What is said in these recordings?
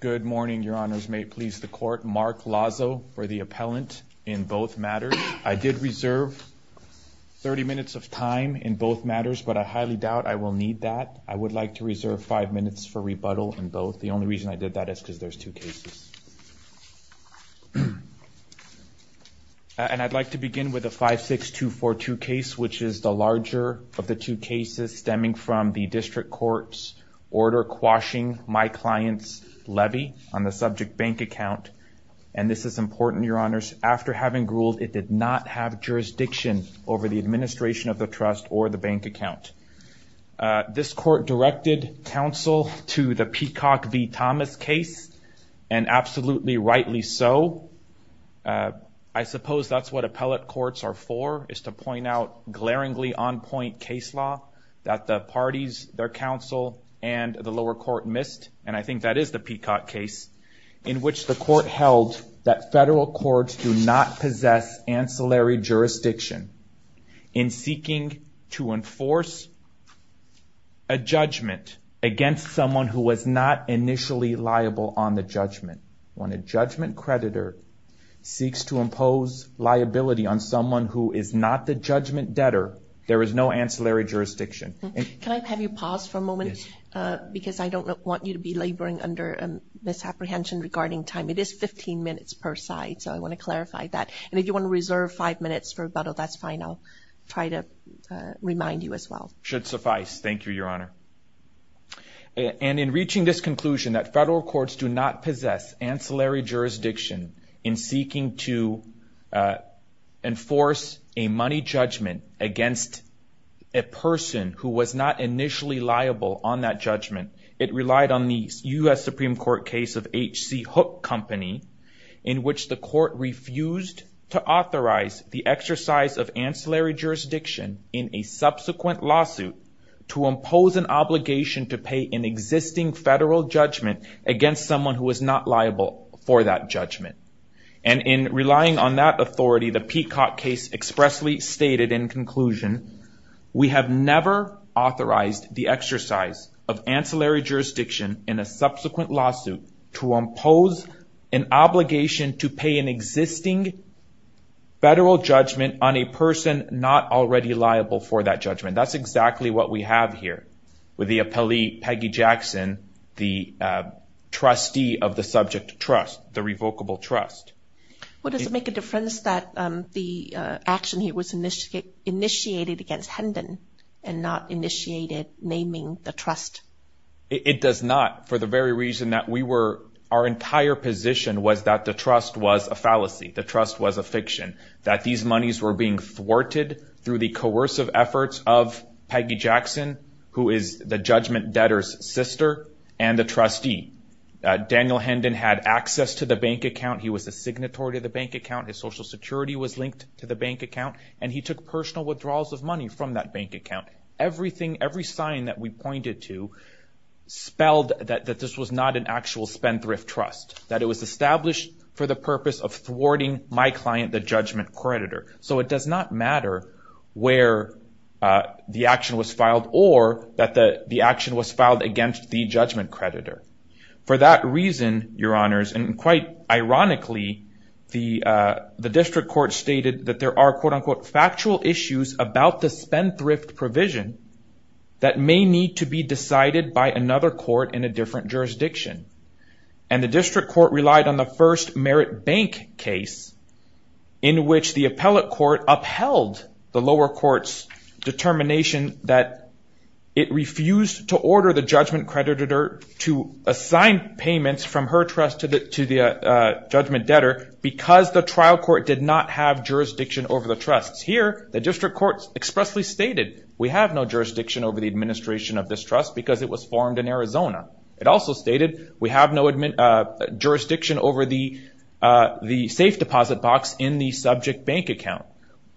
Good morning, your honors. May it please the court. Mark Lazo for the appellant in both matters. I did reserve 30 minutes of time in both matters, but I highly doubt I will need that. I would like to reserve five minutes for rebuttal in both. The only reason I did that is because there's two cases. And I'd like to begin with a 56242 case, which is the larger of the two cases stemming from the district court's order quashing my client's levy on the subject bank account. And this is important, your honors. After having ruled, it did not have jurisdiction over the administration of the trust or the bank account. This court directed counsel to the Peacock v. Thomas case, and absolutely rightly so. I suppose that's what appellate courts are for, is to point out glaringly on point case law that the parties, their counsel, and the lower court missed. And I think that is the Peacock case, in which the court held that federal courts do not possess ancillary jurisdiction in seeking to enforce a judgment against someone who was not initially liable on the judgment. When a judgment creditor seeks to impose liability on someone who is not the judgment debtor, there is no ancillary jurisdiction. Can I have you pause for a moment? Because I don't want you to be laboring under misapprehension regarding time. It is 15 minutes per side, so I want to clarify that. And if you want to reserve five minutes for rebuttal, that's fine. I'll try to remind you as well. Should suffice. Thank you, your honor. And in reaching this conclusion that federal courts do not possess ancillary jurisdiction in seeking to enforce a money judgment against a person who was not initially liable on that judgment, it relied on the US Supreme Court case of H.C. Hook Company, in which the court refused to authorize the exercise of ancillary jurisdiction in a subsequent lawsuit to impose an obligation to pay an existing federal judgment against someone who was not liable for that judgment. And in relying on that authority, the Peacock case expressly stated in conclusion, we have never authorized the exercise of ancillary jurisdiction in a subsequent lawsuit to impose an obligation to pay an existing federal judgment on a person not already liable for that judgment. That's exactly what we have here with the appellee Peggy Jackson, the trustee of the subject trust, the revocable trust. What does it make a difference that the action here was initiated against Hendon and not initiated naming the trust? It does not, for the very reason that we were, our entire position was that the trust was a fallacy. The trust was a fiction. That these monies were being thwarted through the coercive efforts of Peggy Jackson, who is the judgment debtor's sister and the trustee. Daniel Hendon had access to the bank account. He was a signatory to the bank account. His social security was linked to the bank account. And he took personal withdrawals of money from that bank account. Everything, every sign that we pointed to, spelled that this was not an actual spendthrift trust. That it was established for the purpose of thwarting my client, the judgment creditor. So it does not matter where the action was filed or that the action was filed against the judgment creditor. For that reason, your honors, and quite ironically, the district court stated that there are, quote unquote, factual issues about the spendthrift provision that may need to be decided by another court in a different jurisdiction. And the district court relied on the first merit bank case in which the appellate court upheld the lower court's determination that it refused to order the judgment creditor to assign payments from her trust to the judgment debtor because the trial court did not have jurisdiction over the trusts. Here, the district court expressly stated, we have no jurisdiction over the administration of this trust because it was formed in Arizona. It also stated, we have no jurisdiction over the safe deposit box in the subject bank account.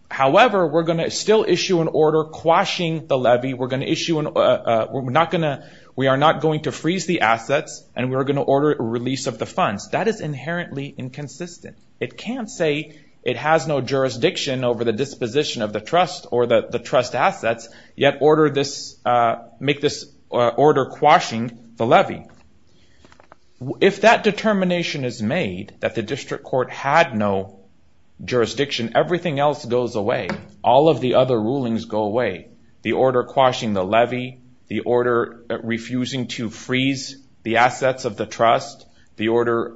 However, we're gonna still issue an order quashing the levy. We're gonna issue, we're not gonna, we're going to freeze the assets and we're gonna order a release of the funds. That is inherently inconsistent. It can't say it has no jurisdiction over the disposition of the trust or the trust assets yet order this, make this order quashing the levy. If that determination is made, that the district court had no jurisdiction, everything else goes away. All of the other rulings go away. The order quashing the levy, the order refusing to freeze the assets of the trust, the order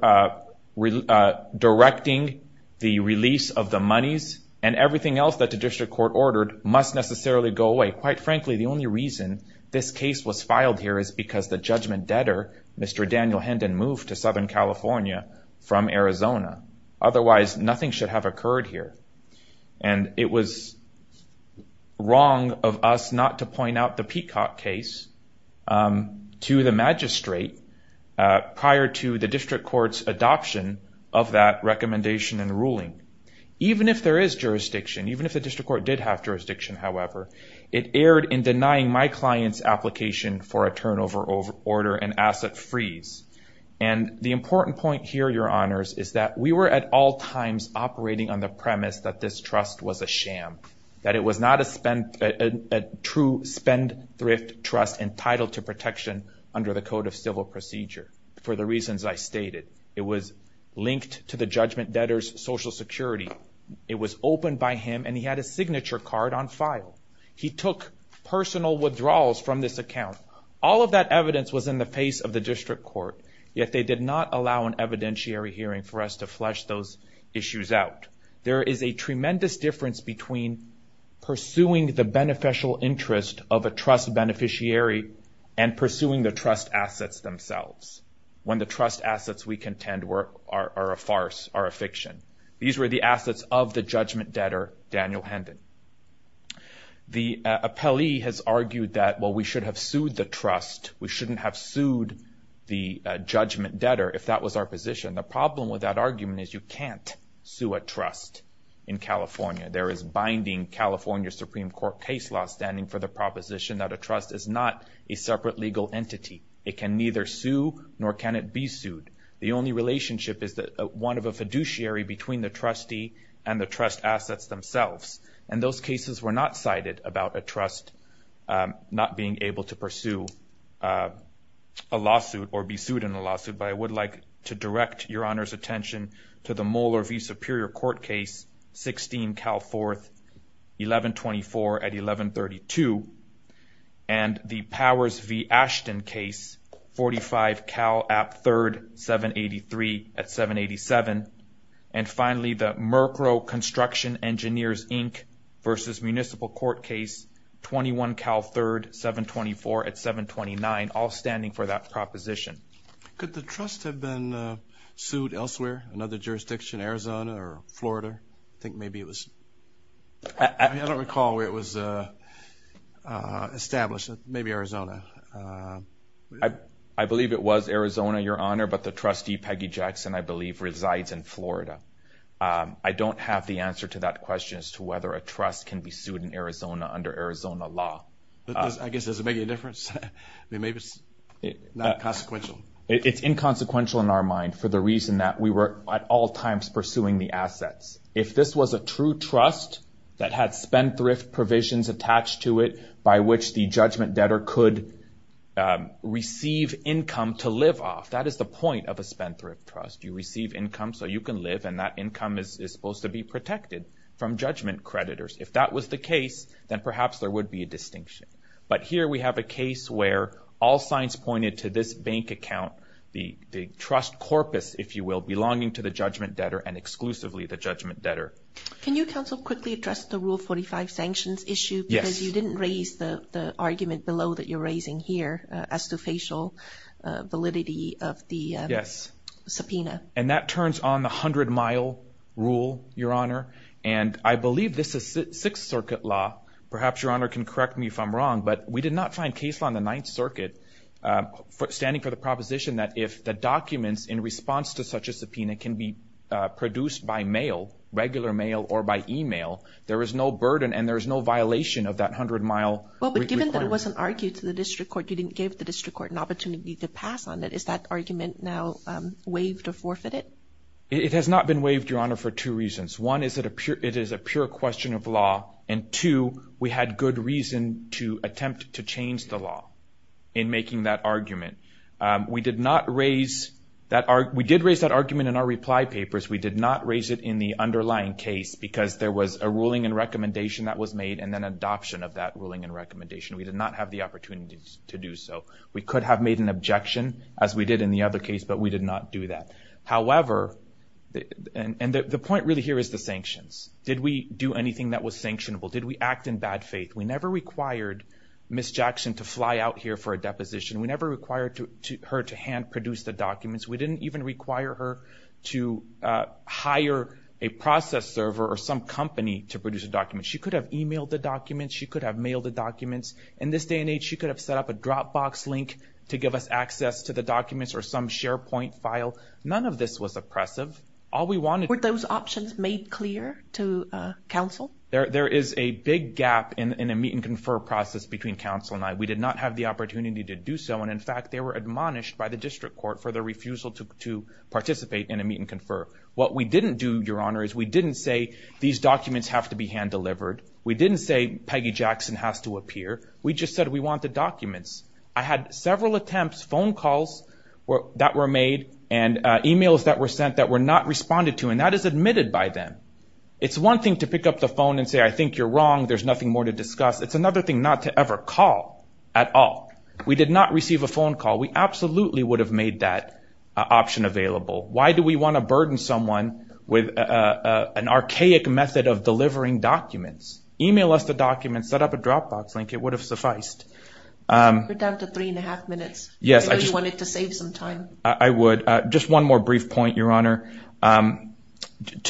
directing the release of the monies and everything else that the district court ordered must necessarily go away. Quite frankly, the only reason this case was filed here is because the judgment debtor, Mr. Daniel Hendon moved to Southern California from Arizona. Otherwise, nothing should have occurred here. And it was wrong of us not to point out the Peacock case to the magistrate prior to the district court's adoption of that recommendation and ruling. Even if there is jurisdiction, even if the district court did have jurisdiction, however, it erred in denying my client's application for a turnover order and asset freeze. And the important point here, your honors, is that we were at all times operating on the premise that this trust was a sham, that it was not a true spendthrift trust entitled to protection under the Code of Civil Procedure for the reasons I stated. It was linked to the judgment debtor's social security. It was opened by him and he had a signature card on file. He took personal withdrawals from this account. All of that evidence was in the face of the district court, yet they did not allow an evidentiary hearing for us to flesh those issues out. There is a tremendous difference between pursuing the beneficial interest of a trust beneficiary and pursuing the trust assets themselves, when the trust assets we contend are a farce, are a fiction. These were the assets of the judgment debtor, Daniel Hendon. The appellee has argued that, well, we should have sued the trust. We shouldn't have sued the judgment debtor if that was our position. And the problem with that argument is you can't sue a trust in California. There is binding California Supreme Court case law standing for the proposition that a trust is not a separate legal entity. It can neither sue nor can it be sued. The only relationship is that one of a fiduciary between the trustee and the trust assets themselves. And those cases were not cited about a trust not being able to pursue a lawsuit or be sued in a lawsuit. But I would like to direct your Honor's attention to the Moller v. Superior Court case, 16 Cal 4th, 1124 at 1132, and the Powers v. Ashton case, 45 Cal App 3rd, 783 at 787. And finally, the Merkrow Construction Engineers, Inc. versus Municipal Court case, 21 Cal 3rd, 724 at 729, all standing for that proposition. Could the trust have been sued elsewhere, another jurisdiction, Arizona or Florida? I think maybe it was... I don't recall where it was established. Maybe Arizona. I believe it was Arizona, Your Honor, but the trustee, Peggy Jackson, I believe resides in Florida. I don't have the answer to that question as to whether a trust can be sued in Arizona under Arizona law. I guess, does it make any difference? Maybe it's not consequential. It's inconsequential in our mind for the reason that we were, at all times, pursuing the assets. If this was a true trust that had spendthrift provisions attached to it by which the judgment debtor could receive income to live off, that is the point of a spendthrift trust. You receive income so you can live, and that income is supposed to be protected from judgment creditors. If that was the case, then perhaps there would be a distinction. But here we have a case where all signs pointed to this bank account, the trust corpus, if you will, belonging to the judgment debtor and exclusively the judgment debtor. Can you, counsel, quickly address the Rule 45 sanctions issue? Yes. Because you didn't raise the argument below that you're raising here as to facial validity of the subpoena. And that turns on the 100-mile rule, Your Honor, and I believe this is Sixth Circuit law. Perhaps Your Honor can correct me if I'm wrong, but we did not find case law in the Ninth Circuit standing for the proposition that if the documents in response to such a subpoena can be produced by mail, regular mail or by email, there is no burden and there is no violation of that 100-mile requirement. Well, but given that it wasn't argued to the district court, you didn't give the district court an opportunity to pass on it. Is that argument now waived or forfeited? It has not been waived, Your Honor, for two reasons. One is that it is a pure question of law, and two, we had good reason to attempt to change the law in making that argument. We did raise that argument in our reply papers. We did not raise it in the underlying case because there was a ruling and recommendation that was made and then adoption of that ruling and recommendation. We did not have the opportunity to do so. We could have made an objection as we did in the other case, but we did not do that. However, and the point really here is the sanctions. Did we do anything that was sanctionable? Did we act in bad faith? We never required Ms. Jackson to fly out here for a deposition. We never required her to hand produce the documents. We didn't even require her to hire a process server or some company to produce a document. She could have emailed the documents. She could have mailed the documents. In this day and age, she could have set up a Dropbox link to give us access to the documents or some SharePoint file. None of this was oppressive. All we wanted- Were there any objections made clear to counsel? There is a big gap in a meet and confer process between counsel and I. We did not have the opportunity to do so. And in fact, they were admonished by the district court for their refusal to participate in a meet and confer. What we didn't do, Your Honor, is we didn't say these documents have to be hand delivered. We didn't say Peggy Jackson has to appear. We just said, we want the documents. I had several attempts, phone calls that were made and emails that were sent that were not responded to. And that is admitted by them. It's one thing to pick up the phone and say, I think you're wrong. There's nothing more to discuss. It's another thing not to ever call at all. We did not receive a phone call. We absolutely would have made that option available. Why do we want to burden someone with an archaic method of delivering documents? Email us the documents, set up a Dropbox link. It would have sufficed. We're down to three and a half minutes. Yes, I just- I really wanted to save some time. I would. Just one more brief point, Your Honor.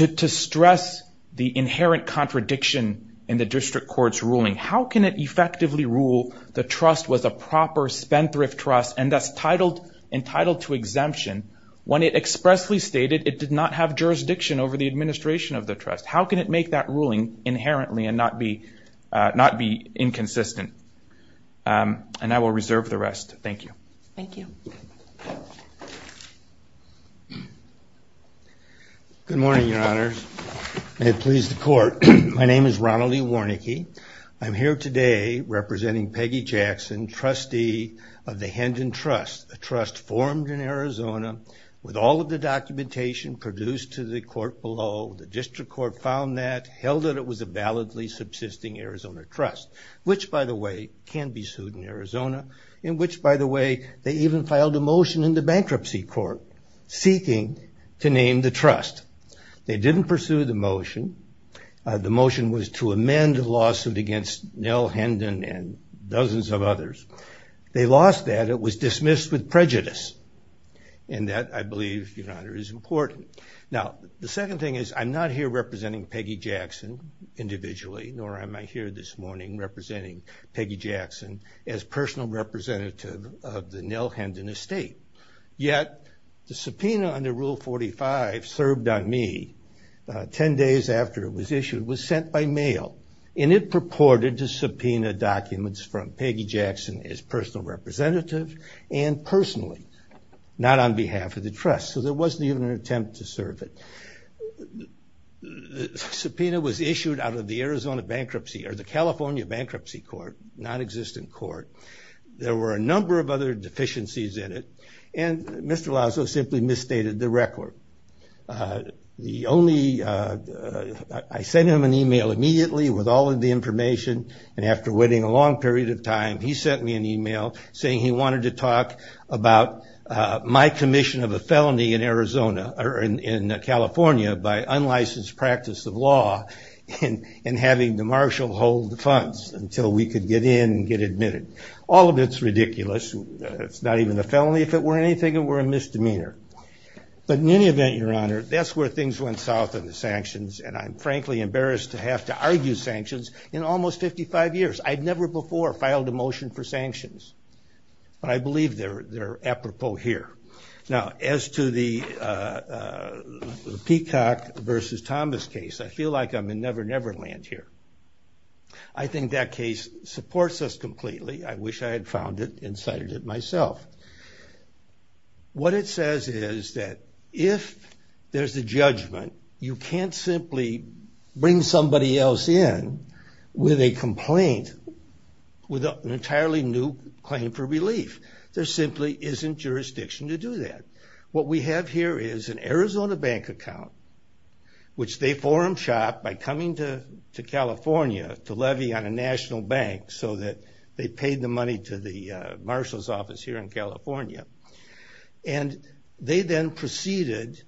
To stress the inherent contradiction in the district court's ruling, how can it effectively rule the trust was a proper spendthrift trust and thus entitled to exemption when it expressly stated it did not have jurisdiction over the administration of the trust? How can it make that ruling inherently and not be inconsistent? And I will reserve the rest. Thank you. Thank you. Thank you. Good morning, Your Honors. May it please the court. My name is Ronald E. Warnicke. I'm here today representing Peggy Jackson, trustee of the Hendon Trust, a trust formed in Arizona with all of the documentation produced to the court below. The district court found that, held that it was a validly subsisting Arizona trust, which, by the way, can be sued in Arizona, in which, by the way, they even filed a motion in the bankruptcy court seeking to name the trust. They didn't pursue the motion. The motion was to amend the lawsuit against Nell Hendon and dozens of others. They lost that. It was dismissed with prejudice. And that, I believe, Your Honor, is important. Now, the second thing is I'm not here representing Peggy Jackson individually, nor am I here this morning representing Peggy Jackson as personal representative of the Nell Hendon estate. Yet, the subpoena under Rule 45 served on me 10 days after it was issued, was sent by mail. And it purported to subpoena documents from Peggy Jackson as personal representative and personally, not on behalf of the trust. So there wasn't even an attempt to serve it. Subpoena was issued out of the Arizona bankruptcy, or the California bankruptcy court, non-existent court. There were a number of other deficiencies in it. And Mr. Lazo simply misstated the record. The only, I sent him an email immediately with all of the information. And after waiting a long period of time, he sent me an email saying he wanted to talk about my commission of a felony in Arizona, or in California, by unlicensed practice of law in having the marshal hold the funds until we could get in and get admitted. All of it's ridiculous, it's not even a felony if it were anything, it were a misdemeanor. But in any event, your honor, that's where things went south in the sanctions. And I'm frankly embarrassed to have to argue sanctions in almost 55 years. I've never before filed a motion for sanctions. But I believe they're apropos here. Now, as to the Peacock versus Thomas case, I feel like I'm in Never Never Land here. I think that case supports us completely. I wish I had found it and cited it myself. What it says is that if there's a judgment, you can't simply bring somebody else in with a complaint with an entirely new claim for relief. There simply isn't jurisdiction to do that. What we have here is an Arizona bank account, which they forum shopped by coming to California to levy on a national bank so that they paid the money to the marshal's office here in California. And they then proceeded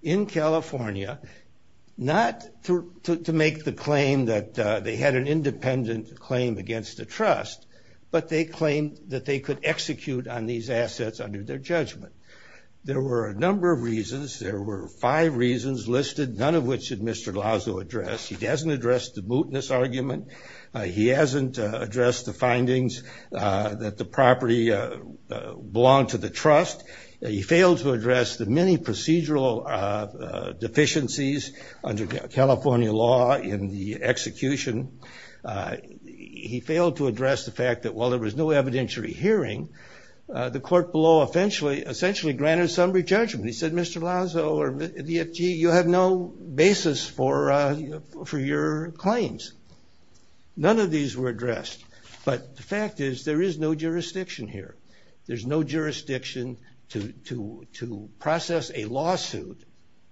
in California not to make the claim that they had an independent claim against the trust, but they claimed that they could execute There were a number of reasons. There were five reasons listed, none of which did Mr. Lazo address. He hasn't addressed the mootness argument. He hasn't addressed the findings that the property belonged to the trust. He failed to address the many procedural deficiencies under California law in the execution. He failed to address the fact that while there was no evidentiary hearing, the court below essentially granted summary judgment. And he said, Mr. Lazo, or DFG, you have no basis for your claims. None of these were addressed. But the fact is there is no jurisdiction here. There's no jurisdiction to process a lawsuit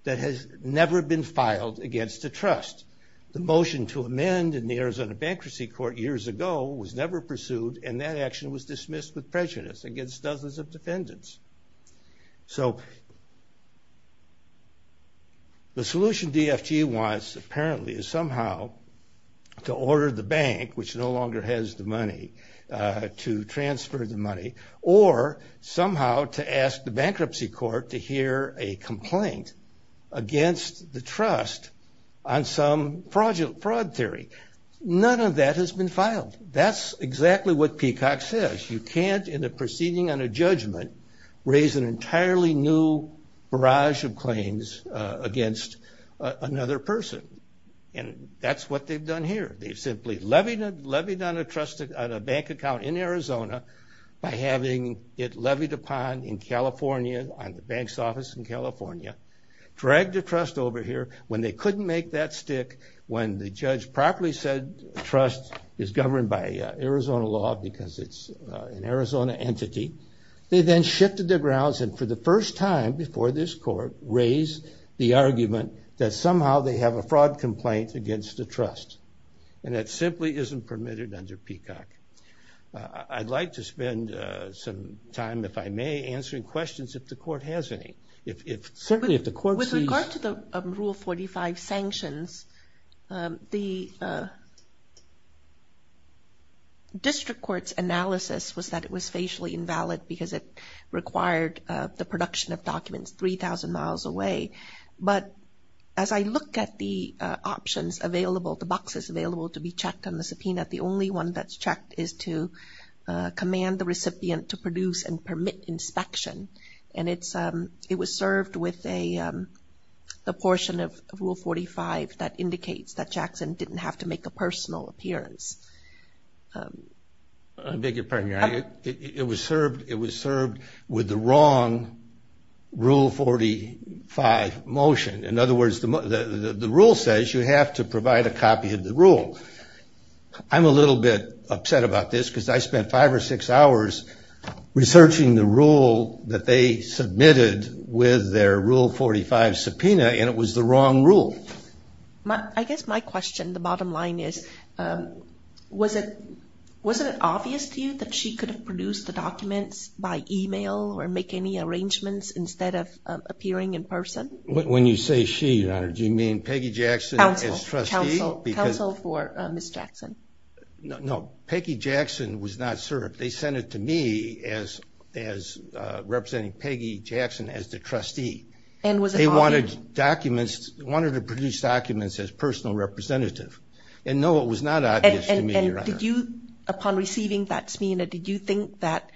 that has never been filed against the trust. The motion to amend in the Arizona Bankruptcy Court years ago was never pursued, and that action was dismissed with prejudice against dozens of defendants. So the solution DFG wants, apparently, is somehow to order the bank, which no longer has the money, to transfer the money, or somehow to ask the bankruptcy court to hear a complaint against the trust on some fraud theory. None of that has been filed. That's exactly what Peacock says. You can't, in a proceeding on a judgment, raise an entirely new barrage of claims against another person. And that's what they've done here. They've simply levied on a trust on a bank account in Arizona by having it levied upon in California on the bank's office in California, dragged the trust over here when they couldn't make that stick, when the judge properly said trust is governed by Arizona law because it's an Arizona entity. They then shifted the grounds, and for the first time before this court, raised the argument that somehow they have a fraud complaint against the trust. And that simply isn't permitted under Peacock. I'd like to spend some time, if I may, answering questions if the court has any. Certainly, if the court sees. With regard to the Rule 45 sanctions, the district court's analysis was that it was facially invalid because it required the production of documents 3,000 miles away. But as I look at the options available, the boxes available to be checked on the subpoena, the only one that's checked is to command the recipient to produce and permit inspection. And it was served with a portion of Rule 45 that indicates that Jackson didn't have to make a personal appearance. I beg your pardon, Your Honor. It was served with the wrong Rule 45 motion. In other words, the rule says you have to provide a copy of the rule. I'm a little bit upset about this because I spent five or six hours researching the rule that they submitted with their Rule 45 subpoena, and it was the wrong rule. I guess my question, the bottom line, is wasn't it obvious to you that she could have produced the documents by email or make any arrangements instead of appearing in person? When you say she, Your Honor, do you mean Peggy Jackson as trustee? Counsel for Ms. Jackson. No, Peggy Jackson was not served. They sent it to me as representing Peggy Jackson as the trustee. And was it obvious? They wanted to produce documents as personal representative. And no, it was not obvious to me, Your Honor. Upon receiving that subpoena, did you think that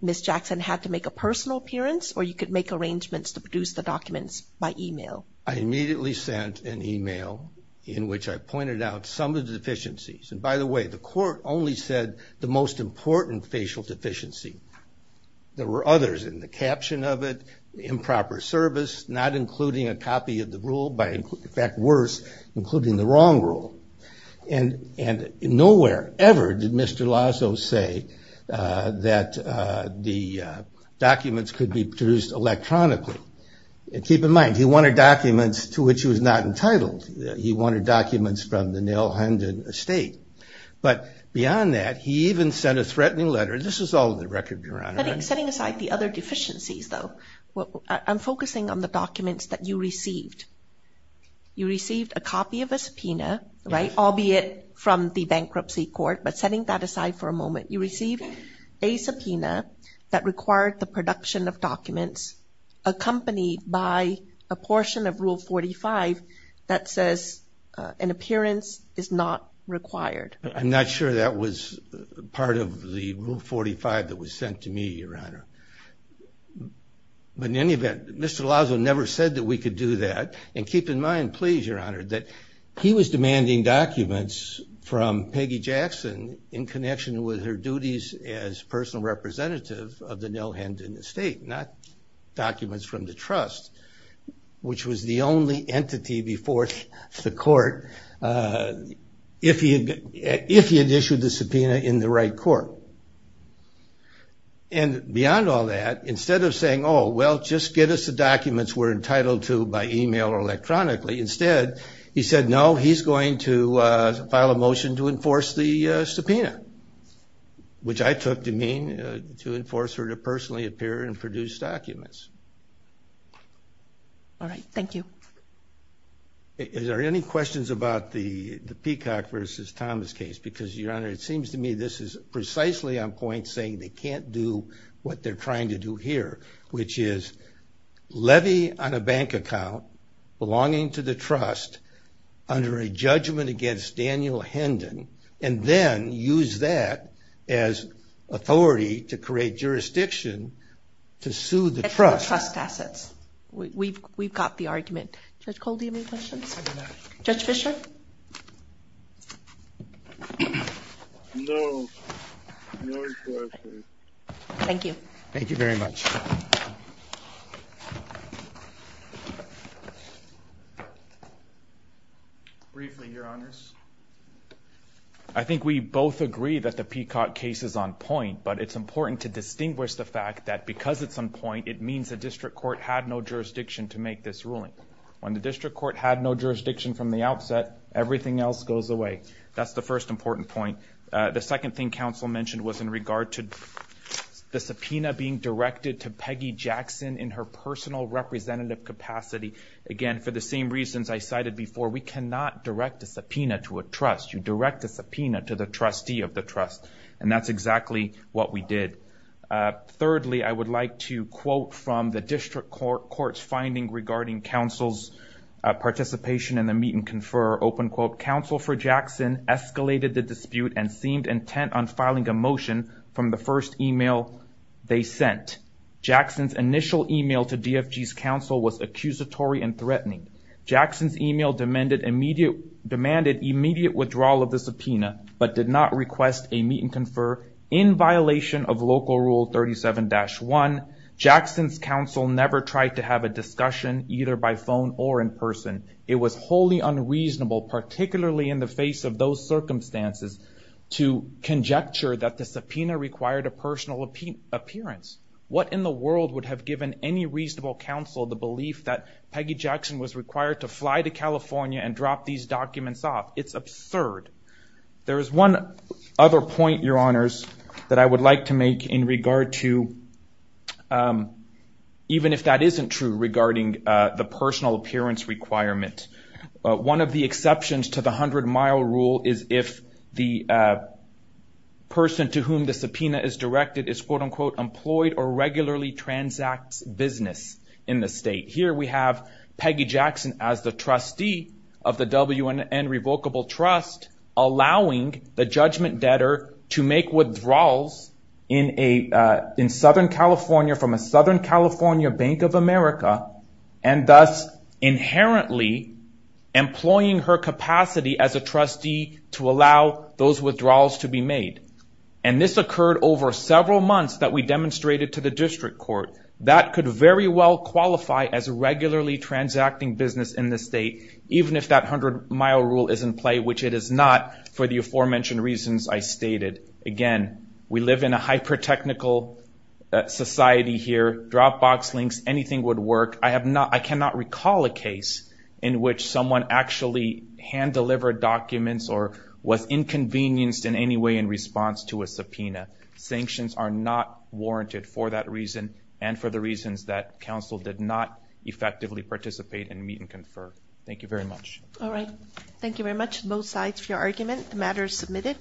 Ms. Jackson had to make a personal appearance or you could make arrangements to produce the documents by email? I immediately sent an email in which I pointed out some of the deficiencies. And by the way, the court only said the most important facial deficiency. There were others in the caption of it, improper service, not including a copy of the rule, by in fact worse, including the wrong rule. And nowhere ever did Mr. Lasso say that the documents could be produced electronically. Keep in mind, he wanted documents to which he was not entitled. He wanted documents from the Nailhundin estate. But beyond that, he even sent a threatening letter. This is all in the record, Your Honor. Setting aside the other deficiencies, though, I'm focusing on the documents that you received. You received a copy of a subpoena, albeit from the bankruptcy court. But setting that aside for a moment, you received a subpoena that required the production of documents accompanied by a portion of Rule 45 that says an appearance is not required. I'm not sure that was part of the Rule 45 that was sent to me, Your Honor. But in any event, Mr. Lasso never said that we could do that. And keep in mind, please, Your Honor, that he was demanding documents from Peggy Jackson in connection with her duties as personal representative of the Nailhundin estate, not documents from the trust, which was the only entity before the court if he had issued the subpoena in the right court. And beyond all that, instead of saying, oh, well, just get us the documents we're entitled to by email or electronically, instead he said, no, he's going to file a motion to enforce the subpoena, which I took to mean to enforce her to personally appear and produce documents. All right. Thank you. Is there any questions about the Peacock versus Thomas case? Because, Your Honor, it seems to me this is precisely on point saying they can't do what they're trying to do here, which is levy on a bank account belonging to the trust under a judgment against Daniel Hendon and then use that as authority to create jurisdiction to sue the trust. It's the trust assets. We've got the argument. Judge Cole, do you have any questions? Judge Fischer? No. No questions. Thank you. Thank you very much. Thank you. Briefly, Your Honors. I think we both agree that the Peacock case is on point, but it's important to distinguish the fact that because it's on point, it means the district court had no jurisdiction to make this ruling. When the district court had no jurisdiction from the outset, everything else goes away. That's the first important point. The second thing counsel mentioned was in regard to the subpoena being directed to Peggy Jackson in her personal representative capacity. Again, for the same reasons I cited before, we cannot direct a subpoena to a trust. You direct a subpoena to the trustee of the trust. And that's exactly what we did. Thirdly, I would like to quote from the district court's finding regarding counsel's participation in the meet and confer. Open quote, counsel for Jackson escalated the dispute and seemed intent on filing a motion from the first email they sent. Jackson's initial email to DFG's counsel was accusatory and threatening. Jackson's email demanded immediate withdrawal of the subpoena, but did not request a meet and confer. In violation of local rule 37-1, Jackson's counsel never tried to have a discussion either by phone or in person. It was wholly unreasonable, particularly in the face of those circumstances, to conjecture that the subpoena required a personal appearance. What in the world would have given any reasonable counsel the belief that Peggy Jackson was required to fly to California and drop these documents off? It's absurd. There is one other point, your honors, that I would like to make in regard to, even if that isn't true regarding the personal appearance requirement. One of the exceptions to the 100 mile rule is if the person to whom the subpoena is directed is, quote unquote, employed or regularly transacts business in the state. Here we have Peggy Jackson as the trustee of the WNN Revocable Trust allowing the judgment debtor to make withdrawals in Southern California from a Southern California Bank of America and thus inherently employing her capacity as a trustee to allow those withdrawals to be made. And this occurred over several months that we demonstrated to the district court. That could very well qualify as regularly transacting business in the state, even if that 100 mile rule is in play, which it is not for the aforementioned reasons I stated. Again, we live in a hyper technical society here. Drop box links, anything would work. I cannot recall a case in which someone actually hand-delivered documents or was inconvenienced in any way in response to a subpoena. Sanctions are not warranted for that reason and for the reasons that counsel did not effectively participate and meet and confer. Thank you very much. All right. Thank you very much, both sides, for your argument. The matter is submitted.